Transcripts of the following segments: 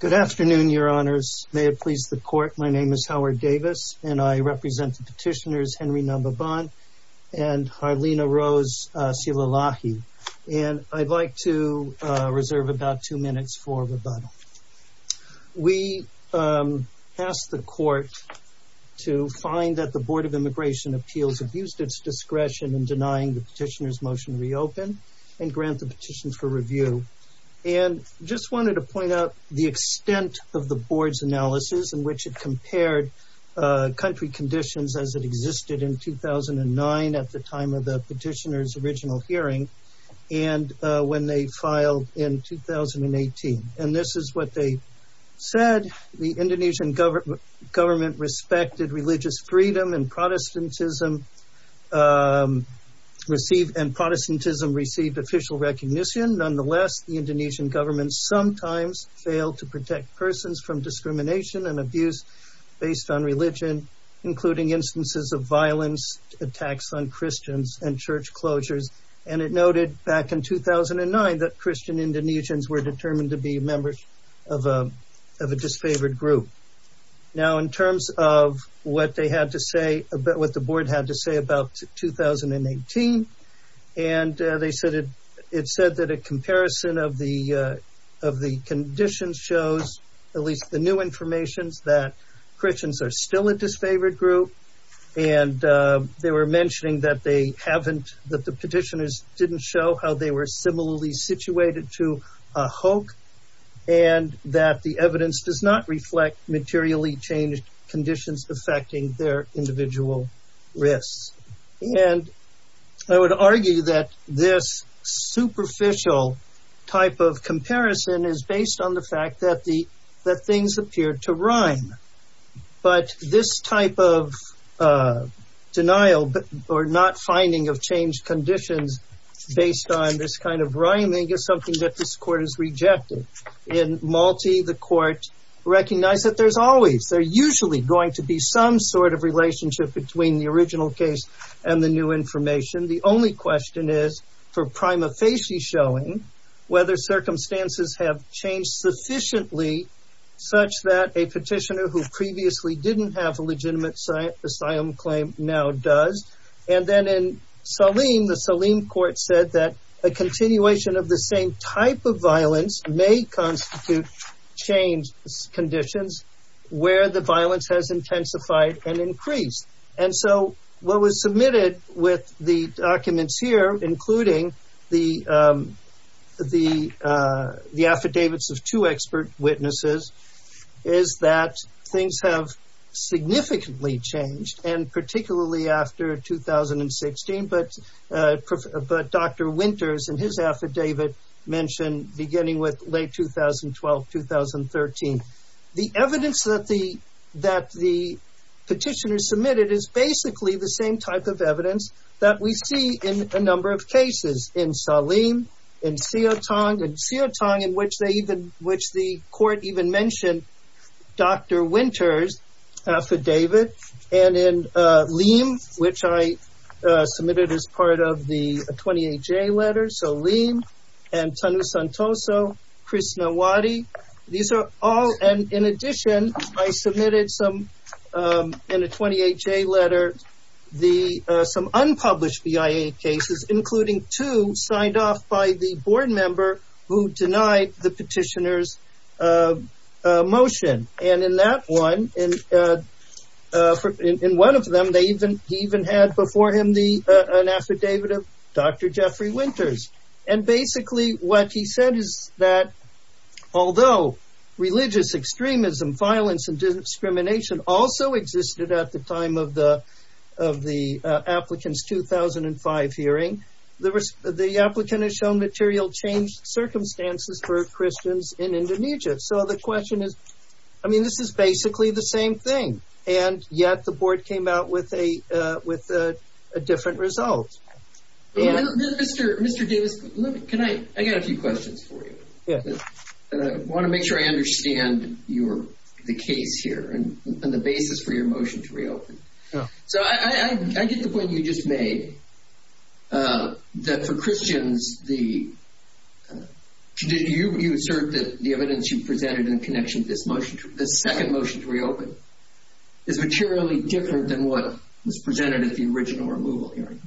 Good afternoon, your honors. May it please the court, my name is Howard Davis and I represent the petitioners Henry Nababan and Harlena Rose Sielalahi. And I'd like to reserve about two minutes for rebuttal. We asked the court to find that the Board of Immigration Appeals abused its discretion in denying the petitioner's motion to reopen and grant the petition for review. And just wanted to point out the extent of the board's analysis in which it compared country conditions as it existed in 2009 at the time of the petitioner's original hearing and when they filed in 2018. And this is what they said, the Indonesian government respected religious freedom and Protestantism received official recognition. Nonetheless, the Indonesian government sometimes failed to protect persons from discrimination and abuse based on religion, including instances of violence, attacks on Christians, and church closures. And it noted back in 2009 that Christian Indonesians were determined to be members of a disfavored group. Now in terms of what they had to say, what the board had to say about 2018, and they said it said that a comparison of the conditions shows, at least the new information, that Christians are still a disfavored group. And they were mentioning that they haven't, that the petitioners didn't show how they were similarly situated to a hoke and that the evidence does not reflect materially changed conditions affecting their individual risks. And I would argue that this superficial type of comparison is based on the fact that things appear to rhyme. But this type of denial or not finding of changed conditions based on this kind of rhyming is something that this court has rejected. In Malta, the court recognized that there's always, there's usually going to be some sort of relationship between the original case and the new information. The only question is for prima facie showing whether circumstances have changed sufficiently such that a petitioner who previously didn't have a legitimate asylum claim now does. And then in Salim, the Salim court said that a continuation of the same type of violence may constitute changed conditions where the violence has intensified and increased. And so what was submitted with the documents here, including the affidavits of two expert witnesses, is that things have significantly changed. And particularly after 2016, but Dr. Winters and his affidavit mentioned beginning with late 2012-2013. The evidence that the petitioner submitted is basically the same type of evidence that we see in a number of cases in Salim, in Siotong, in Siotong in which the court even mentioned Dr. Winters' affidavit. And in Liem, which I submitted as part of the 28-J letter, so Liem and Tanu Santoso, Chris Nowatti, these are all, and in addition, I submitted some, in a 28-J letter, some unpublished BIA cases, including two signed off by the board member who denied the petitioner's motion. And in that one, in one of them, he even had before him an affidavit of Dr. Jeffrey Winters. And basically what he said is that although religious extremism, violence, and discrimination also existed at the time of the applicant's 2005 hearing, the applicant has shown material changed circumstances for Christians in Indonesia. So the question is, I mean, this is basically the same thing, and yet the board came out with a different result. Mr. Davis, can I, I got a few questions for you. Yeah. And I want to make sure I understand your, the case here and the basis for your motion to reopen. Yeah. So I get the point you just made, that for Christians, the, you assert that the evidence you presented in connection to this motion, the second motion to reopen, is materially different than what was presented at the original removal hearing.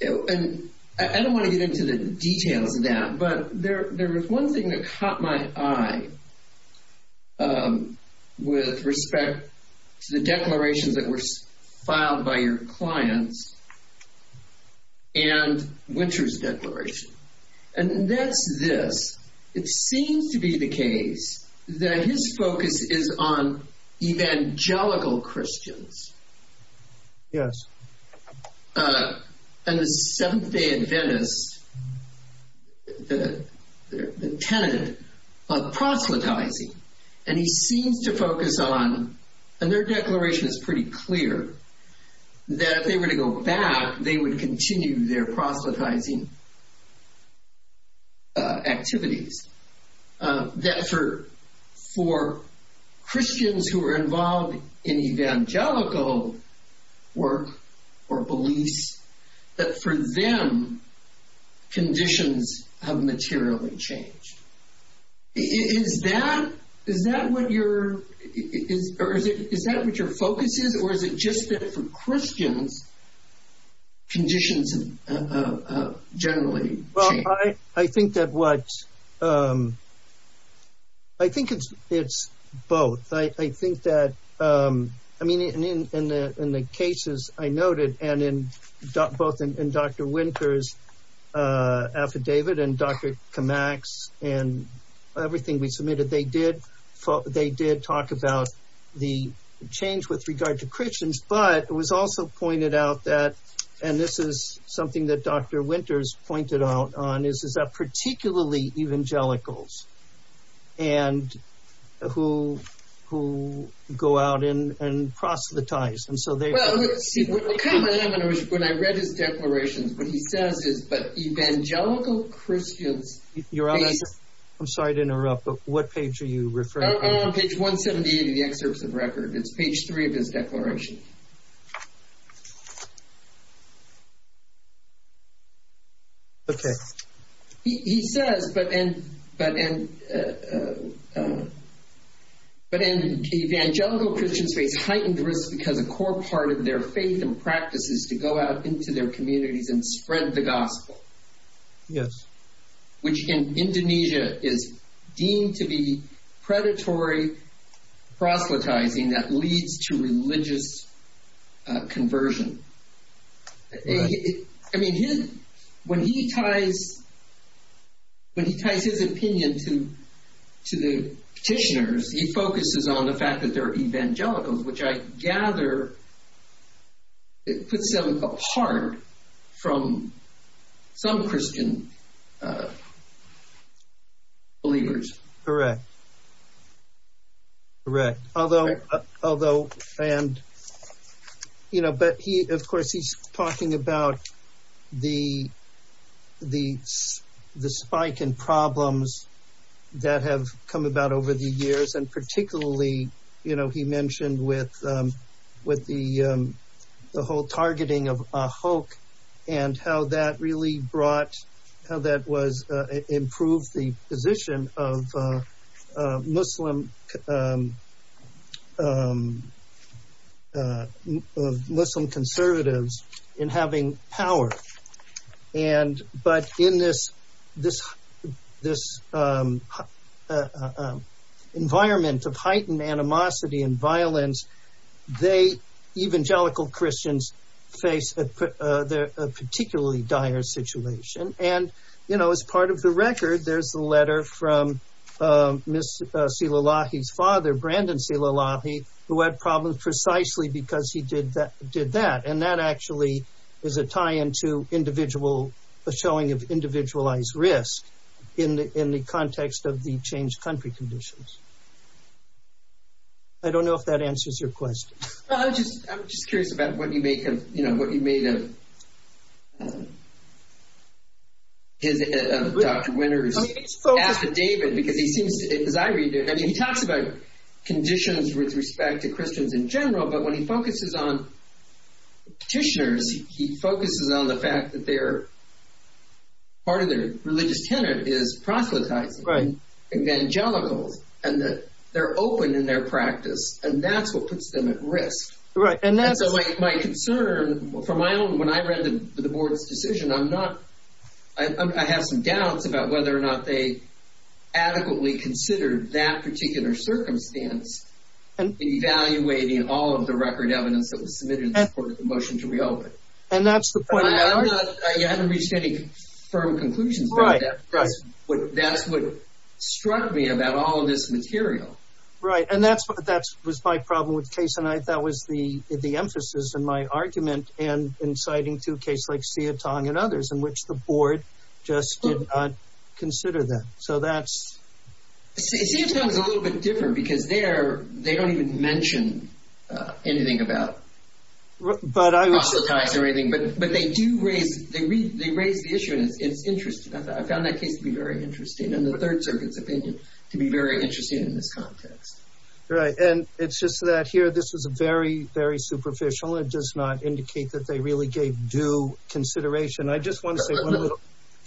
And I don't want to get into the details of that, but there was one thing that caught my eye with respect to the declarations that were filed by your clients and Winters' declaration. And that's this. It seems to be the case that his focus is on evangelical Christians. Yes. And the Seventh-day Adventists, the tenant of proselytizing, and he seems to focus on, and their declaration is pretty clear, that if they were to go back, they would continue their proselytizing activities. That for Christians who are involved in evangelical work or beliefs, that for them, conditions have materially changed. Is that, is that what your, is that what your focus is, or is it just that for Christians, conditions have generally changed? I think that what, I think it's both. I think that, I mean, in the cases I noted, and both in Dr. Winters' affidavit and Dr. Kamak's and everything we submitted, they did talk about the change with regard to Christians. But it was also pointed out that, and this is something that Dr. Winters pointed out on, is that particularly evangelicals who go out and proselytize, and so they… Well, see, what caught my eye when I read his declarations, what he says is that evangelical Christians… Your Honor, I'm sorry to interrupt, but what page are you referring to? Page 178 of the excerpts of record. It's page 3 of his declaration. Okay. He says, but, and, but, and evangelical Christians face heightened risks because a core part of their faith and practice is to go out into their communities and spread the gospel. Yes. Which in Indonesia is deemed to be predatory proselytizing that leads to religious conversion. Right. Believers. Correct. Correct. Although, and, you know, but he, of course, he's talking about the spike in problems that have come about over the years. And particularly, you know, he mentioned with the whole targeting of Ahok and how that really brought, how that was, improved the position of Muslim conservatives in having power. And, but in this, this, this environment of heightened animosity and violence, they, evangelical Christians, face a particularly dire situation. And, you know, as part of the record, there's a letter from Ms. Silalahi's father, Brandon Silalahi, who had problems precisely because he did that, did that. And that actually is a tie into individual, a showing of individualized risk in the, in the context of the changed country conditions. I don't know if that answers your question. I'm just, I'm just curious about what you make of, you know, what you made of Dr. Winter's affidavit, because he seems to, as I read it, and he talks about conditions with respect to Christians in general, but when he focuses on petitioners, he focuses on the fact that they're, part of their religious tenet is proselytizing. Right. Evangelicals, and that they're open in their practice, and that's what puts them at risk. Right. And that's my concern for my own. When I read the board's decision, I'm not, I have some doubts about whether or not they adequately considered that particular circumstance in evaluating all of the record evidence that was submitted in support of the motion to reopen. And that's the point. I haven't reached any firm conclusions. Right. That's what, that's what struck me about all of this material. Right. And that's what, that was my problem with the case, and I, that was the, the emphasis in my argument, and in citing two cases like Sietang and others, in which the board just did not consider them. So that's. Sietang's a little bit different, because they're, they don't even mention anything about proselytizing or anything, but they do raise, they raise the issue, and it's interesting. I found that case to be very interesting, and the Third Circuit's opinion to be very interesting in this context. Right. And it's just that here, this was very, very superficial. It does not indicate that they really gave due consideration. I just want to say.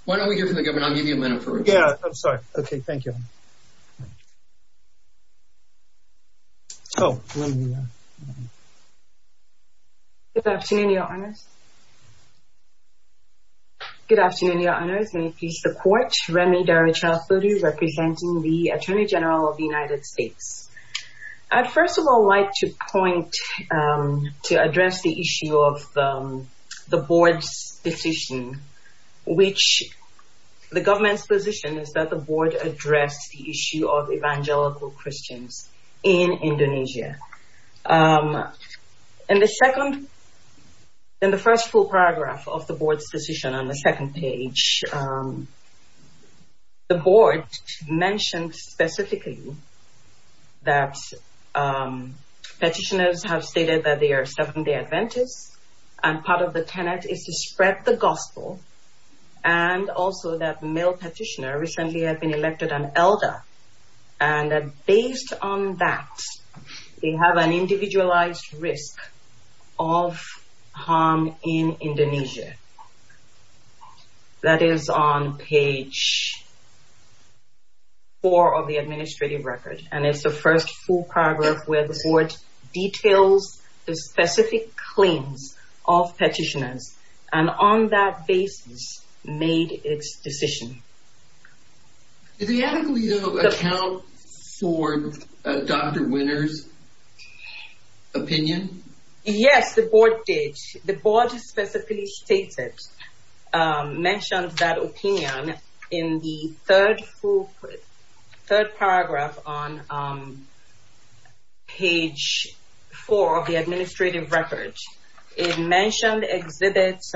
Why don't we hear from the government? I'll give you a minute for review. Yeah. I'm sorry. Okay. Thank you. Oh, let me. Good afternoon, Your Honors. Good afternoon, Your Honors. May it please the Court. Remi Daryachal Thodir, representing the Attorney General of the United States. I'd first of all like to point, to address the issue of the board's position, which, the government's position is that the board addressed the issue of evangelical Christians in Indonesia. In the second, in the first full paragraph of the board's decision on the second page, the board mentioned specifically that petitioners have stated that they are suffering the adventists, and part of the tenet is to spread the gospel, and also that a male petitioner recently had been elected an elder, and that based on that, they have an individualized risk of harm in Indonesia. That is on page four of the administrative record, and it's the first full paragraph where the board details the specific claims of petitioners, and on that basis, made its decision. Did the advocate account for Dr. Winters' opinion? Yes, the board did. The board specifically stated, mentioned that opinion in the third full, third paragraph on page four of the administrative record. It mentioned exhibits,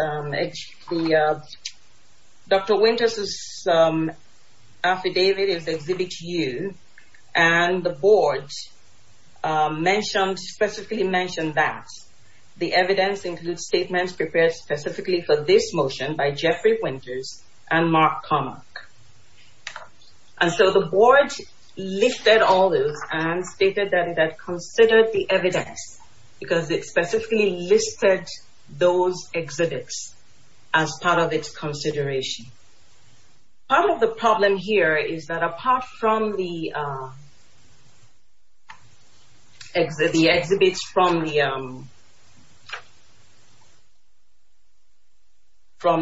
Dr. Winters' affidavit is Exhibit U, and the board mentioned, specifically mentioned that. The evidence includes statements prepared specifically for this motion by Jeffrey Winters and Mark Carmack. And so the board listed all those, and stated that it had considered the evidence, because it specifically listed those exhibits as part of its consideration. Part of the problem here is that apart from the exhibits from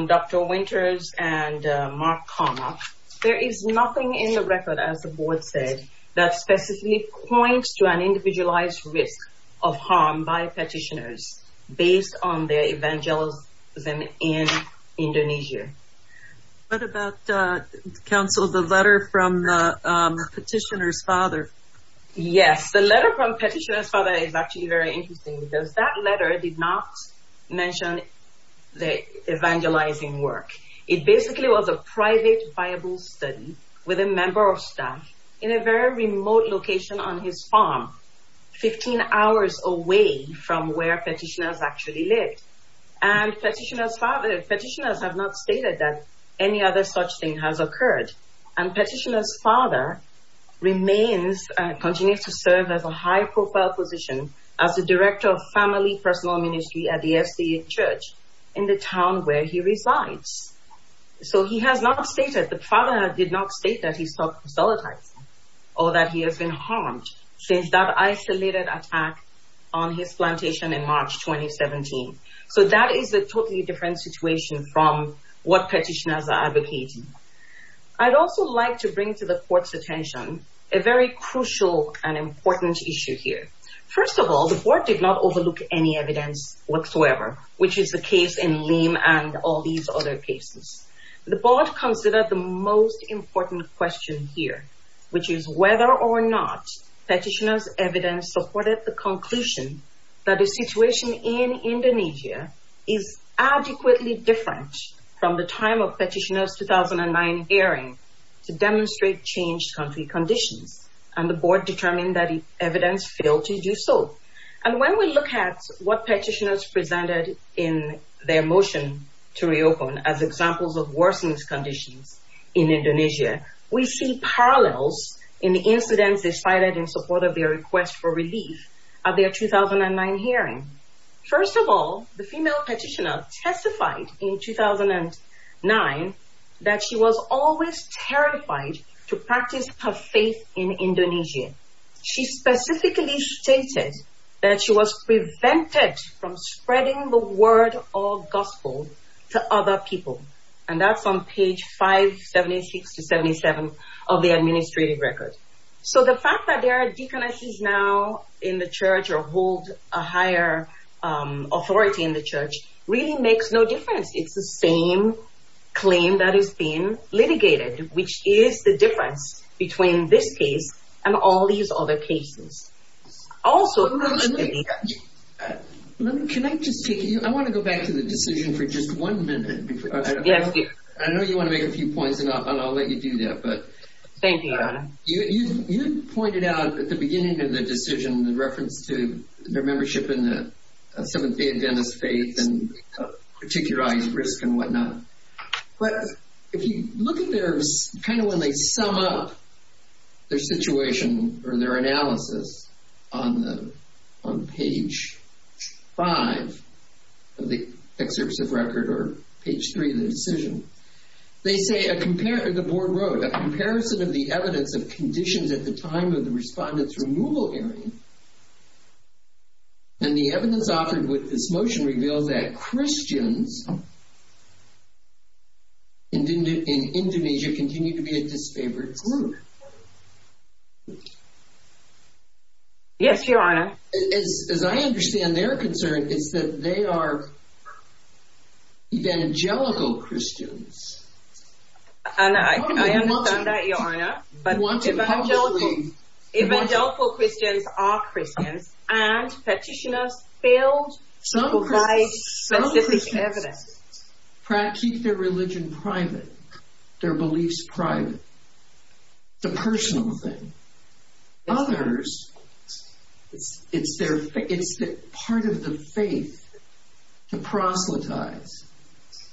Dr. Winters and Mark Carmack, there is nothing in the record, as the board said, that specifically points to an individualized risk of harm by petitioners based on their evangelism in Indonesia. What about, counsel, the letter from the petitioner's father? Yes, the letter from the petitioner's father is actually very interesting, because that letter did not mention the evangelizing work. It basically was a private Bible study with a member of staff in a very remote location on his farm, 15 hours away from where petitioners actually lived. And petitioner's father, petitioners have not stated that any other such thing has occurred. And petitioner's father remains, continues to serve as a high-profile position as the director of family personal ministry at the SCA church in the town where he resides. So he has not stated, the father did not state that he sought to solidify or that he has been harmed since that isolated attack on his plantation in March 2017. So that is a totally different situation from what petitioners are advocating. I'd also like to bring to the court's attention a very crucial and important issue here. First of all, the board did not overlook any evidence whatsoever, which is the case in Lim and all these other cases. The board considered the most important question here, which is whether or not petitioner's evidence supported the conclusion that the situation in Indonesia is adequately different from the time of petitioner's 2009 hearing to demonstrate changed country conditions. And the board determined that the evidence failed to do so. And when we look at what petitioners presented in their motion to reopen as examples of worsening conditions in Indonesia, we see parallels in the incidents decided in support of their request for relief at their 2009 hearing. First of all, the female petitioner testified in 2009 that she was always terrified to practice her faith in Indonesia. She specifically stated that she was prevented from spreading the word of gospel to other people. And that's on page 576 to 77 of the administrative record. So the fact that there are deaconesses now in the church or hold a higher authority in the church really makes no difference. It's the same claim that is being litigated, which is the difference between this case and all these other cases. Also, can I just take you, I want to go back to the decision for just one minute. I know you want to make a few points, and I'll let you do that. But thank you. You pointed out at the beginning of the decision the reference to their membership in the Seventh-day Adventist faith and particularized risk and whatnot. But if you look at their, kind of when they sum up their situation or their analysis on page 5 of the excerpts of record or page 3 of the decision, they say, the board wrote, a comparison of the evidence of conditions at the time of the respondent's removal hearing. And the evidence offered with this motion reveals that Christians in Indonesia continue to be a disfavored group. Yes, Your Honor. As I understand their concern, it's that they are evangelical Christians. And I understand that, Your Honor. But evangelical Christians are Christians, and petitioners failed to provide specific evidence. Some Christians keep their religion private, their beliefs private. It's a personal thing. Others, it's part of the faith to proselytize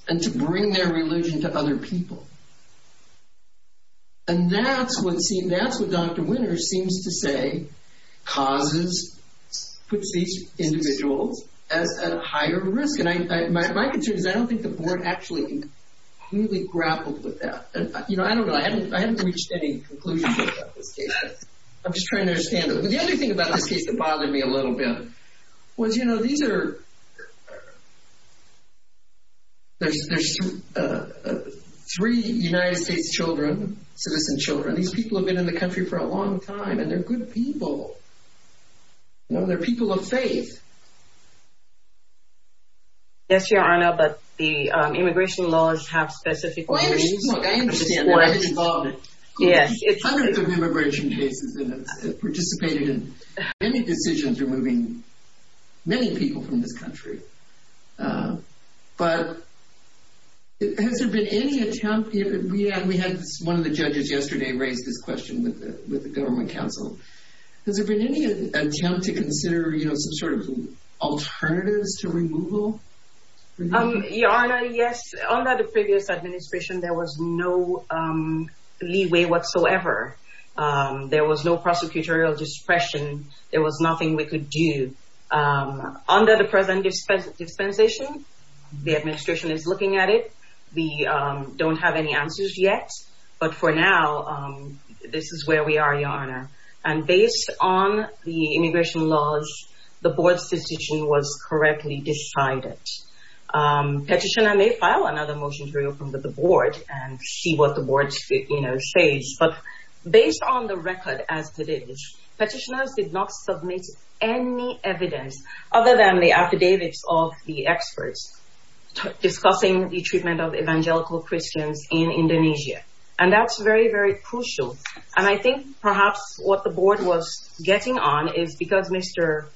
and to bring their religion to other people. And that's what, see, that's what Dr. Winters seems to say causes, puts these individuals at a higher risk. And my concern is I don't think the board actually completely grappled with that. You know, I don't know. I haven't reached any conclusions about this case. I'm just trying to understand it. But the other thing about this case that bothered me a little bit was, you know, these are, there's three United States children, citizen children. These people have been in the country for a long time, and they're good people. You know, they're people of faith. Yes, Your Honor, but the immigration laws have specific rules. I understand that. Hundreds of immigration cases have participated in many decisions removing many people from this country. But has there been any attempt, we had one of the judges yesterday raise this question with the government counsel. Has there been any attempt to consider, you know, some sort of alternatives to removal? Your Honor, yes. Under the previous administration, there was no leeway whatsoever. There was no prosecutorial discretion. There was nothing we could do. Under the present dispensation, the administration is looking at it. We don't have any answers yet. But for now, this is where we are, Your Honor. And based on the immigration laws, the board's decision was correctly decided. Petitioner may file another motion to reopen the board and see what the board, you know, says. But based on the record as it is, petitioners did not submit any evidence other than the affidavits of the experts discussing the treatment of evangelical Christians in Indonesia. And that's very, very crucial. And I think perhaps what the board was getting on is because Mr.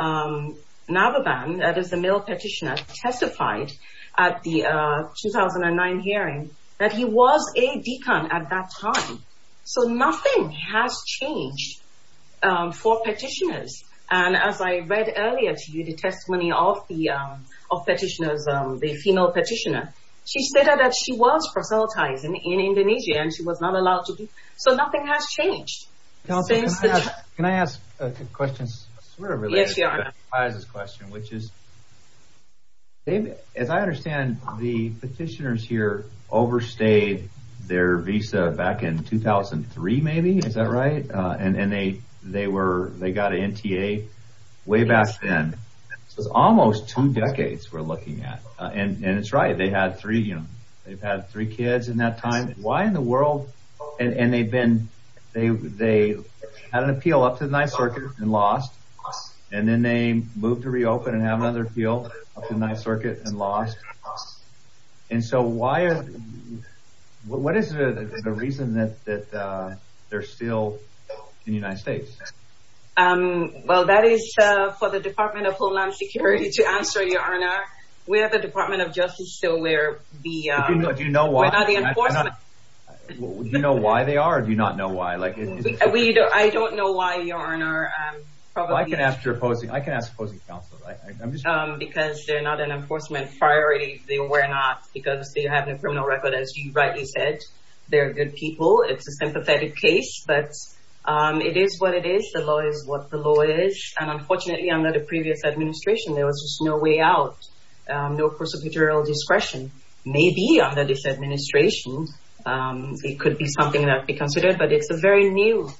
Navaban, that is the male petitioner, testified at the 2009 hearing that he was a deacon at that time. So nothing has changed for petitioners. And as I read earlier to you the testimony of the female petitioner, she said that she was proselytized in Indonesia and she was not allowed to be. So nothing has changed. Can I ask a question? Yes, Your Honor. Which is, as I understand, the petitioners here overstayed their visa back in 2003, maybe. Is that right? And they got an NTA way back then. So it's almost two decades we're looking at. And it's right. They had three, you know, they've had three kids in that time. Why in the world? And they've been, they had an appeal up to the Ninth Circuit and lost. And then they moved to reopen and have another appeal up to the Ninth Circuit and lost. And so why, what is the reason that they're still in the United States? Well, that is for the Department of Homeland Security to answer, Your Honor. We have the Department of Justice, so we're not the enforcement. Do you know why they are or do you not know why? I don't know why, Your Honor. I can ask your opposing, I can ask opposing counsel. Because they're not an enforcement priority. They were not because they have no criminal record, as you rightly said. They're good people. It's a sympathetic case, but it is what it is. The law is what the law is. And unfortunately, under the previous administration, there was just no way out. No prosecutorial discretion. Maybe under this administration, it could be something that could be considered, but it's a very new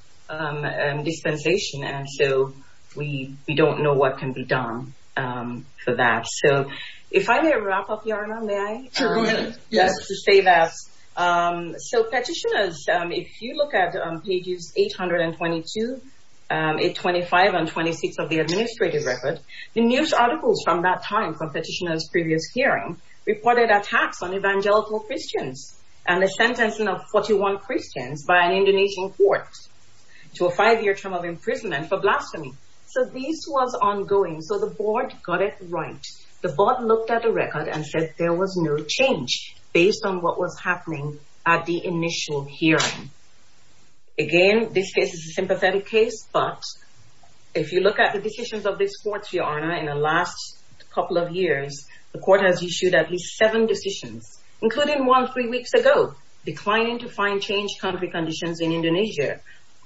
dispensation. And so we don't know what can be done for that. So if I may wrap up, Your Honor, may I? Sure, go ahead. Just to say that. So petitioners, if you look at pages 822, 825, and 826 of the administrative record, the news articles from that time from petitioners' previous hearing reported attacks on evangelical Christians and the sentencing of 41 Christians by an Indonesian court to a five-year term of imprisonment for blasphemy. So this was ongoing. So the board got it right. The board looked at the record and said there was no change based on what was happening at the initial hearing. Again, this case is a sympathetic case, but if you look at the decisions of this court, Your Honor, in the last couple of years, the court has issued at least seven decisions, including one three weeks ago, declining to find changed country conditions in Indonesia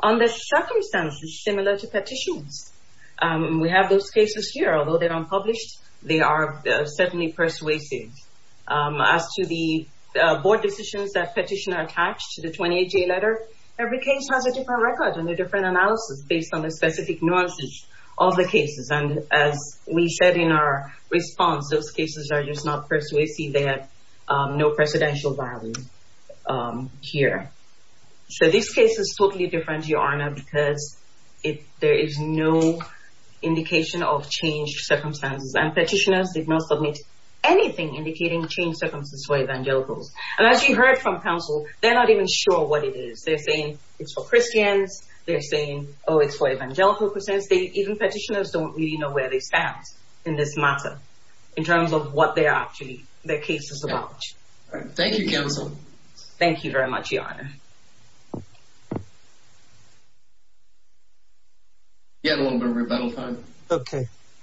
under circumstances similar to petitions. We have those cases here. Although they're unpublished, they are certainly persuasive. As to the board decisions that petitioner attached to the 28-J letter, every case has a different record and a different analysis based on the specific nuances of the cases. As we said in our response, those cases are just not persuasive. They have no precedential value here. So this case is totally different, Your Honor, because there is no indication of changed circumstances, and petitioners did not submit anything indicating changed circumstances for evangelicals. As you heard from counsel, they're not even sure what it is. They're saying it's for Christians. They're saying, oh, it's for evangelical Christians. Even petitioners don't really know where they stand in this matter in terms of what their case is about. Thank you, counsel. Thank you very much, Your Honor. We have a little bit of rebuttal time.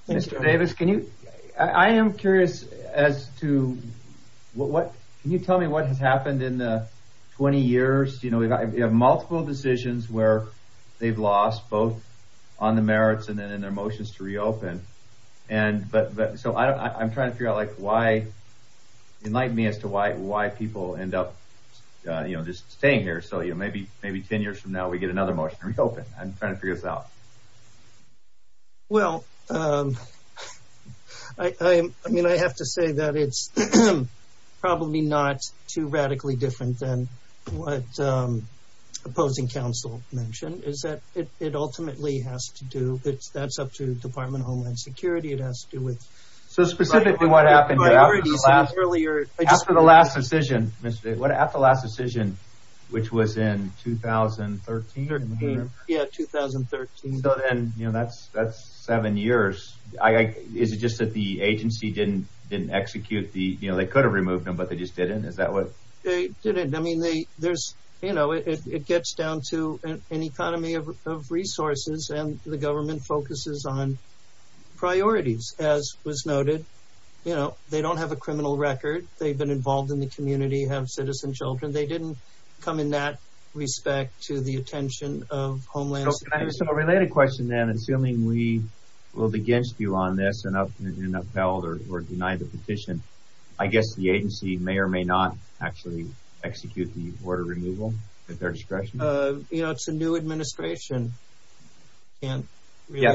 Mr. Davis, can you... I am curious as to... Can you tell me what has happened in the 20 years? We have multiple decisions where they've lost, both on the merits and in their motions to reopen. So I'm trying to figure out why... Enlighten me as to why people end up just staying here so maybe 10 years from now we get another motion to reopen. I'm trying to figure this out. Well... I mean, I have to say that it's probably not too radically different than what opposing counsel mentioned, is that it ultimately has to do... That's up to Department of Homeland Security. It has to do with... So specifically what happened after the last decision, Mr. Davis, after the last decision, which was in 2013 or in the year... Yeah, 2013. So then that's seven years. Is it just that the agency didn't execute the... They could have removed them, but they just didn't? Is that what... They didn't. I mean, there's... It gets down to an economy of resources and the government focuses on priorities, as was noted. They don't have a criminal record. They've been involved in the community, have citizen children. They didn't come in that respect to the attention of Homeland Security. So a related question then, assuming we vote against you on this and upheld or denied the petition, I guess the agency may or may not actually execute the order removal at their discretion? It's a new administration. Yeah,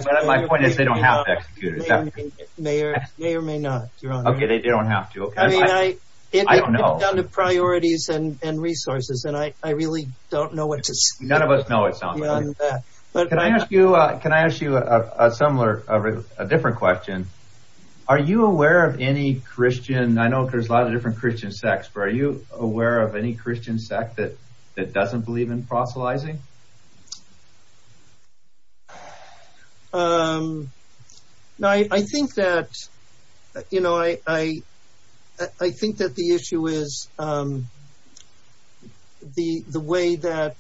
but my point is they don't have to execute it. May or may not, Your Honor. Okay, they don't have to. I mean, it gets down to priorities and resources, and I really don't know what to say. None of us know, it sounds like. Can I ask you a different question? Are you aware of any Christian... I know there's a lot of different Christian sects, but are you aware of any Christian sect that doesn't believe in proselytizing? Okay. I think that the issue is the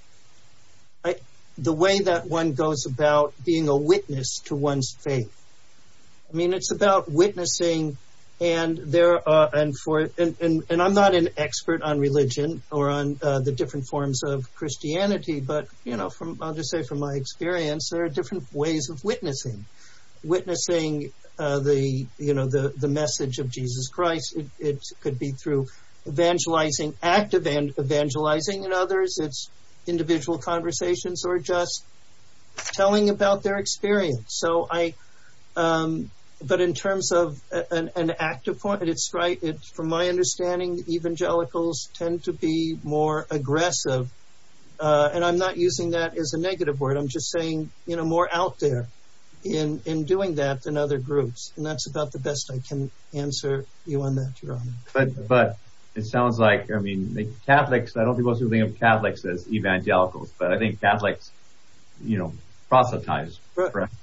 way that one goes about being a witness to one's faith. I mean, it's about witnessing, and I'm not an expert on religion or on the different forms of Christianity, but I'll just say from my experience, there are different ways of witnessing, witnessing the message of Jesus Christ. It could be through evangelizing, active evangelizing in others. It's individual conversations or just telling about their experience. But in terms of an active point, it's right. From my understanding, evangelicals tend to be more aggressive, and I'm not using that as a negative word. I'm just saying more out there in doing that than other groups, and that's about the best I can answer you on that, Your Honor. But it sounds like, I mean, Catholics, I don't think most people think of Catholics as evangelicals, but I think Catholics proselytize, correct?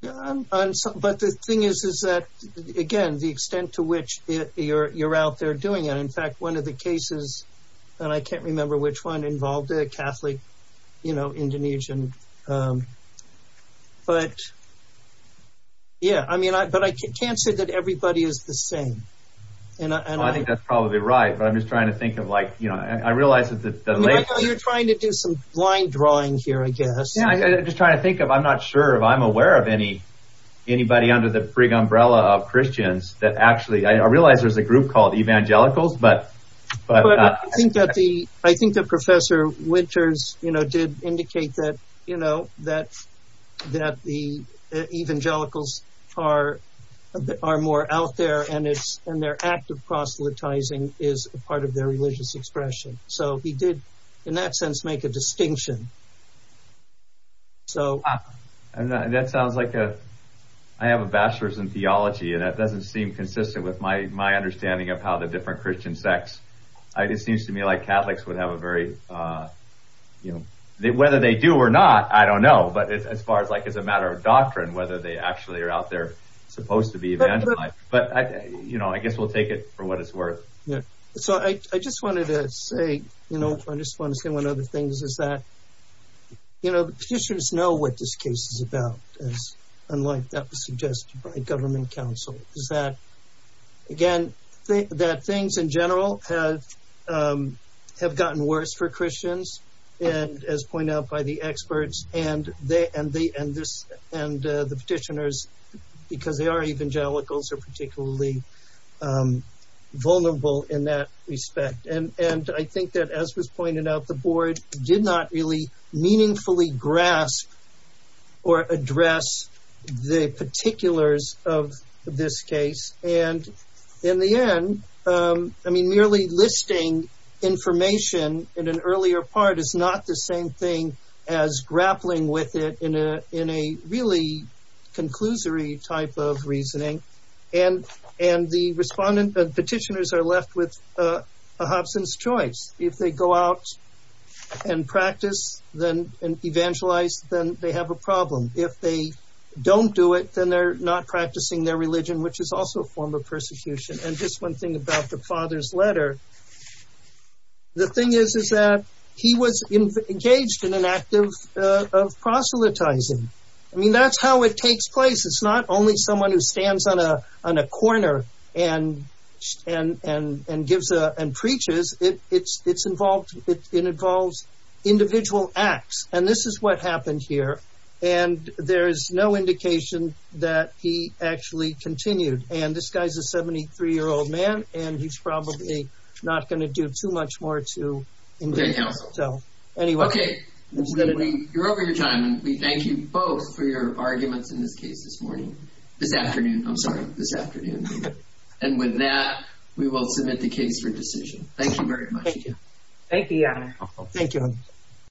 But the thing is, is that, again, the extent to which you're out there doing it. In fact, one of the cases, and I can't remember which one, involved a Catholic, you know, Indonesian. But, yeah, I mean, but I can't say that everybody is the same. I think that's probably right, but I'm just trying to think of like, you know, I realize that later— You're trying to do some blind drawing here, I guess. Yeah, I'm just trying to think of, I'm not sure if I'm aware of anybody under the frig umbrella of Christians, that actually, I realize there's a group called evangelicals, but— I think that Professor Winters, you know, did indicate that, you know, that the evangelicals are more out there, and their active proselytizing is part of their religious expression. So he did, in that sense, make a distinction. That sounds like a—I have a bachelor's in theology, and that doesn't seem consistent with my understanding of how the different Christian sects— It seems to me like Catholics would have a very, you know— Whether they do or not, I don't know, but as far as, like, as a matter of doctrine, whether they actually are out there supposed to be evangelicals. But, you know, I guess we'll take it for what it's worth. So I just wanted to say, you know, I just want to say one other thing, is that, you know, the petitioners know what this case is about, as—unlike that was suggested by government counsel— is that, again, that things in general have gotten worse for Christians, and as pointed out by the experts, and the petitioners, because they are evangelicals, are particularly vulnerable in that respect. And I think that, as was pointed out, the board did not really meaningfully grasp or address the particulars of this case. And in the end, I mean, merely listing information in an earlier part is not the same thing as grappling with it in a really conclusory type of reasoning. And the petitioners are left with a hobson's choice. If they go out and practice and evangelize, then they have a problem. If they don't do it, then they're not practicing their religion, which is also a form of persecution. And just one thing about the father's letter. The thing is, is that he was engaged in an act of proselytizing. I mean, that's how it takes place. It's not only someone who stands on a corner and gives a—and preaches. It's involved—it involves individual acts. And this is what happened here. And there is no indication that he actually continued. And this guy's a 73-year-old man, and he's probably not going to do too much more to engage himself. Anyway. Okay. You're over your time, and we thank you both for your arguments in this case this morning. This afternoon. I'm sorry. This afternoon. And with that, we will submit the case for decision. Thank you very much. Thank you. Thank you, Your Honor. Thank you.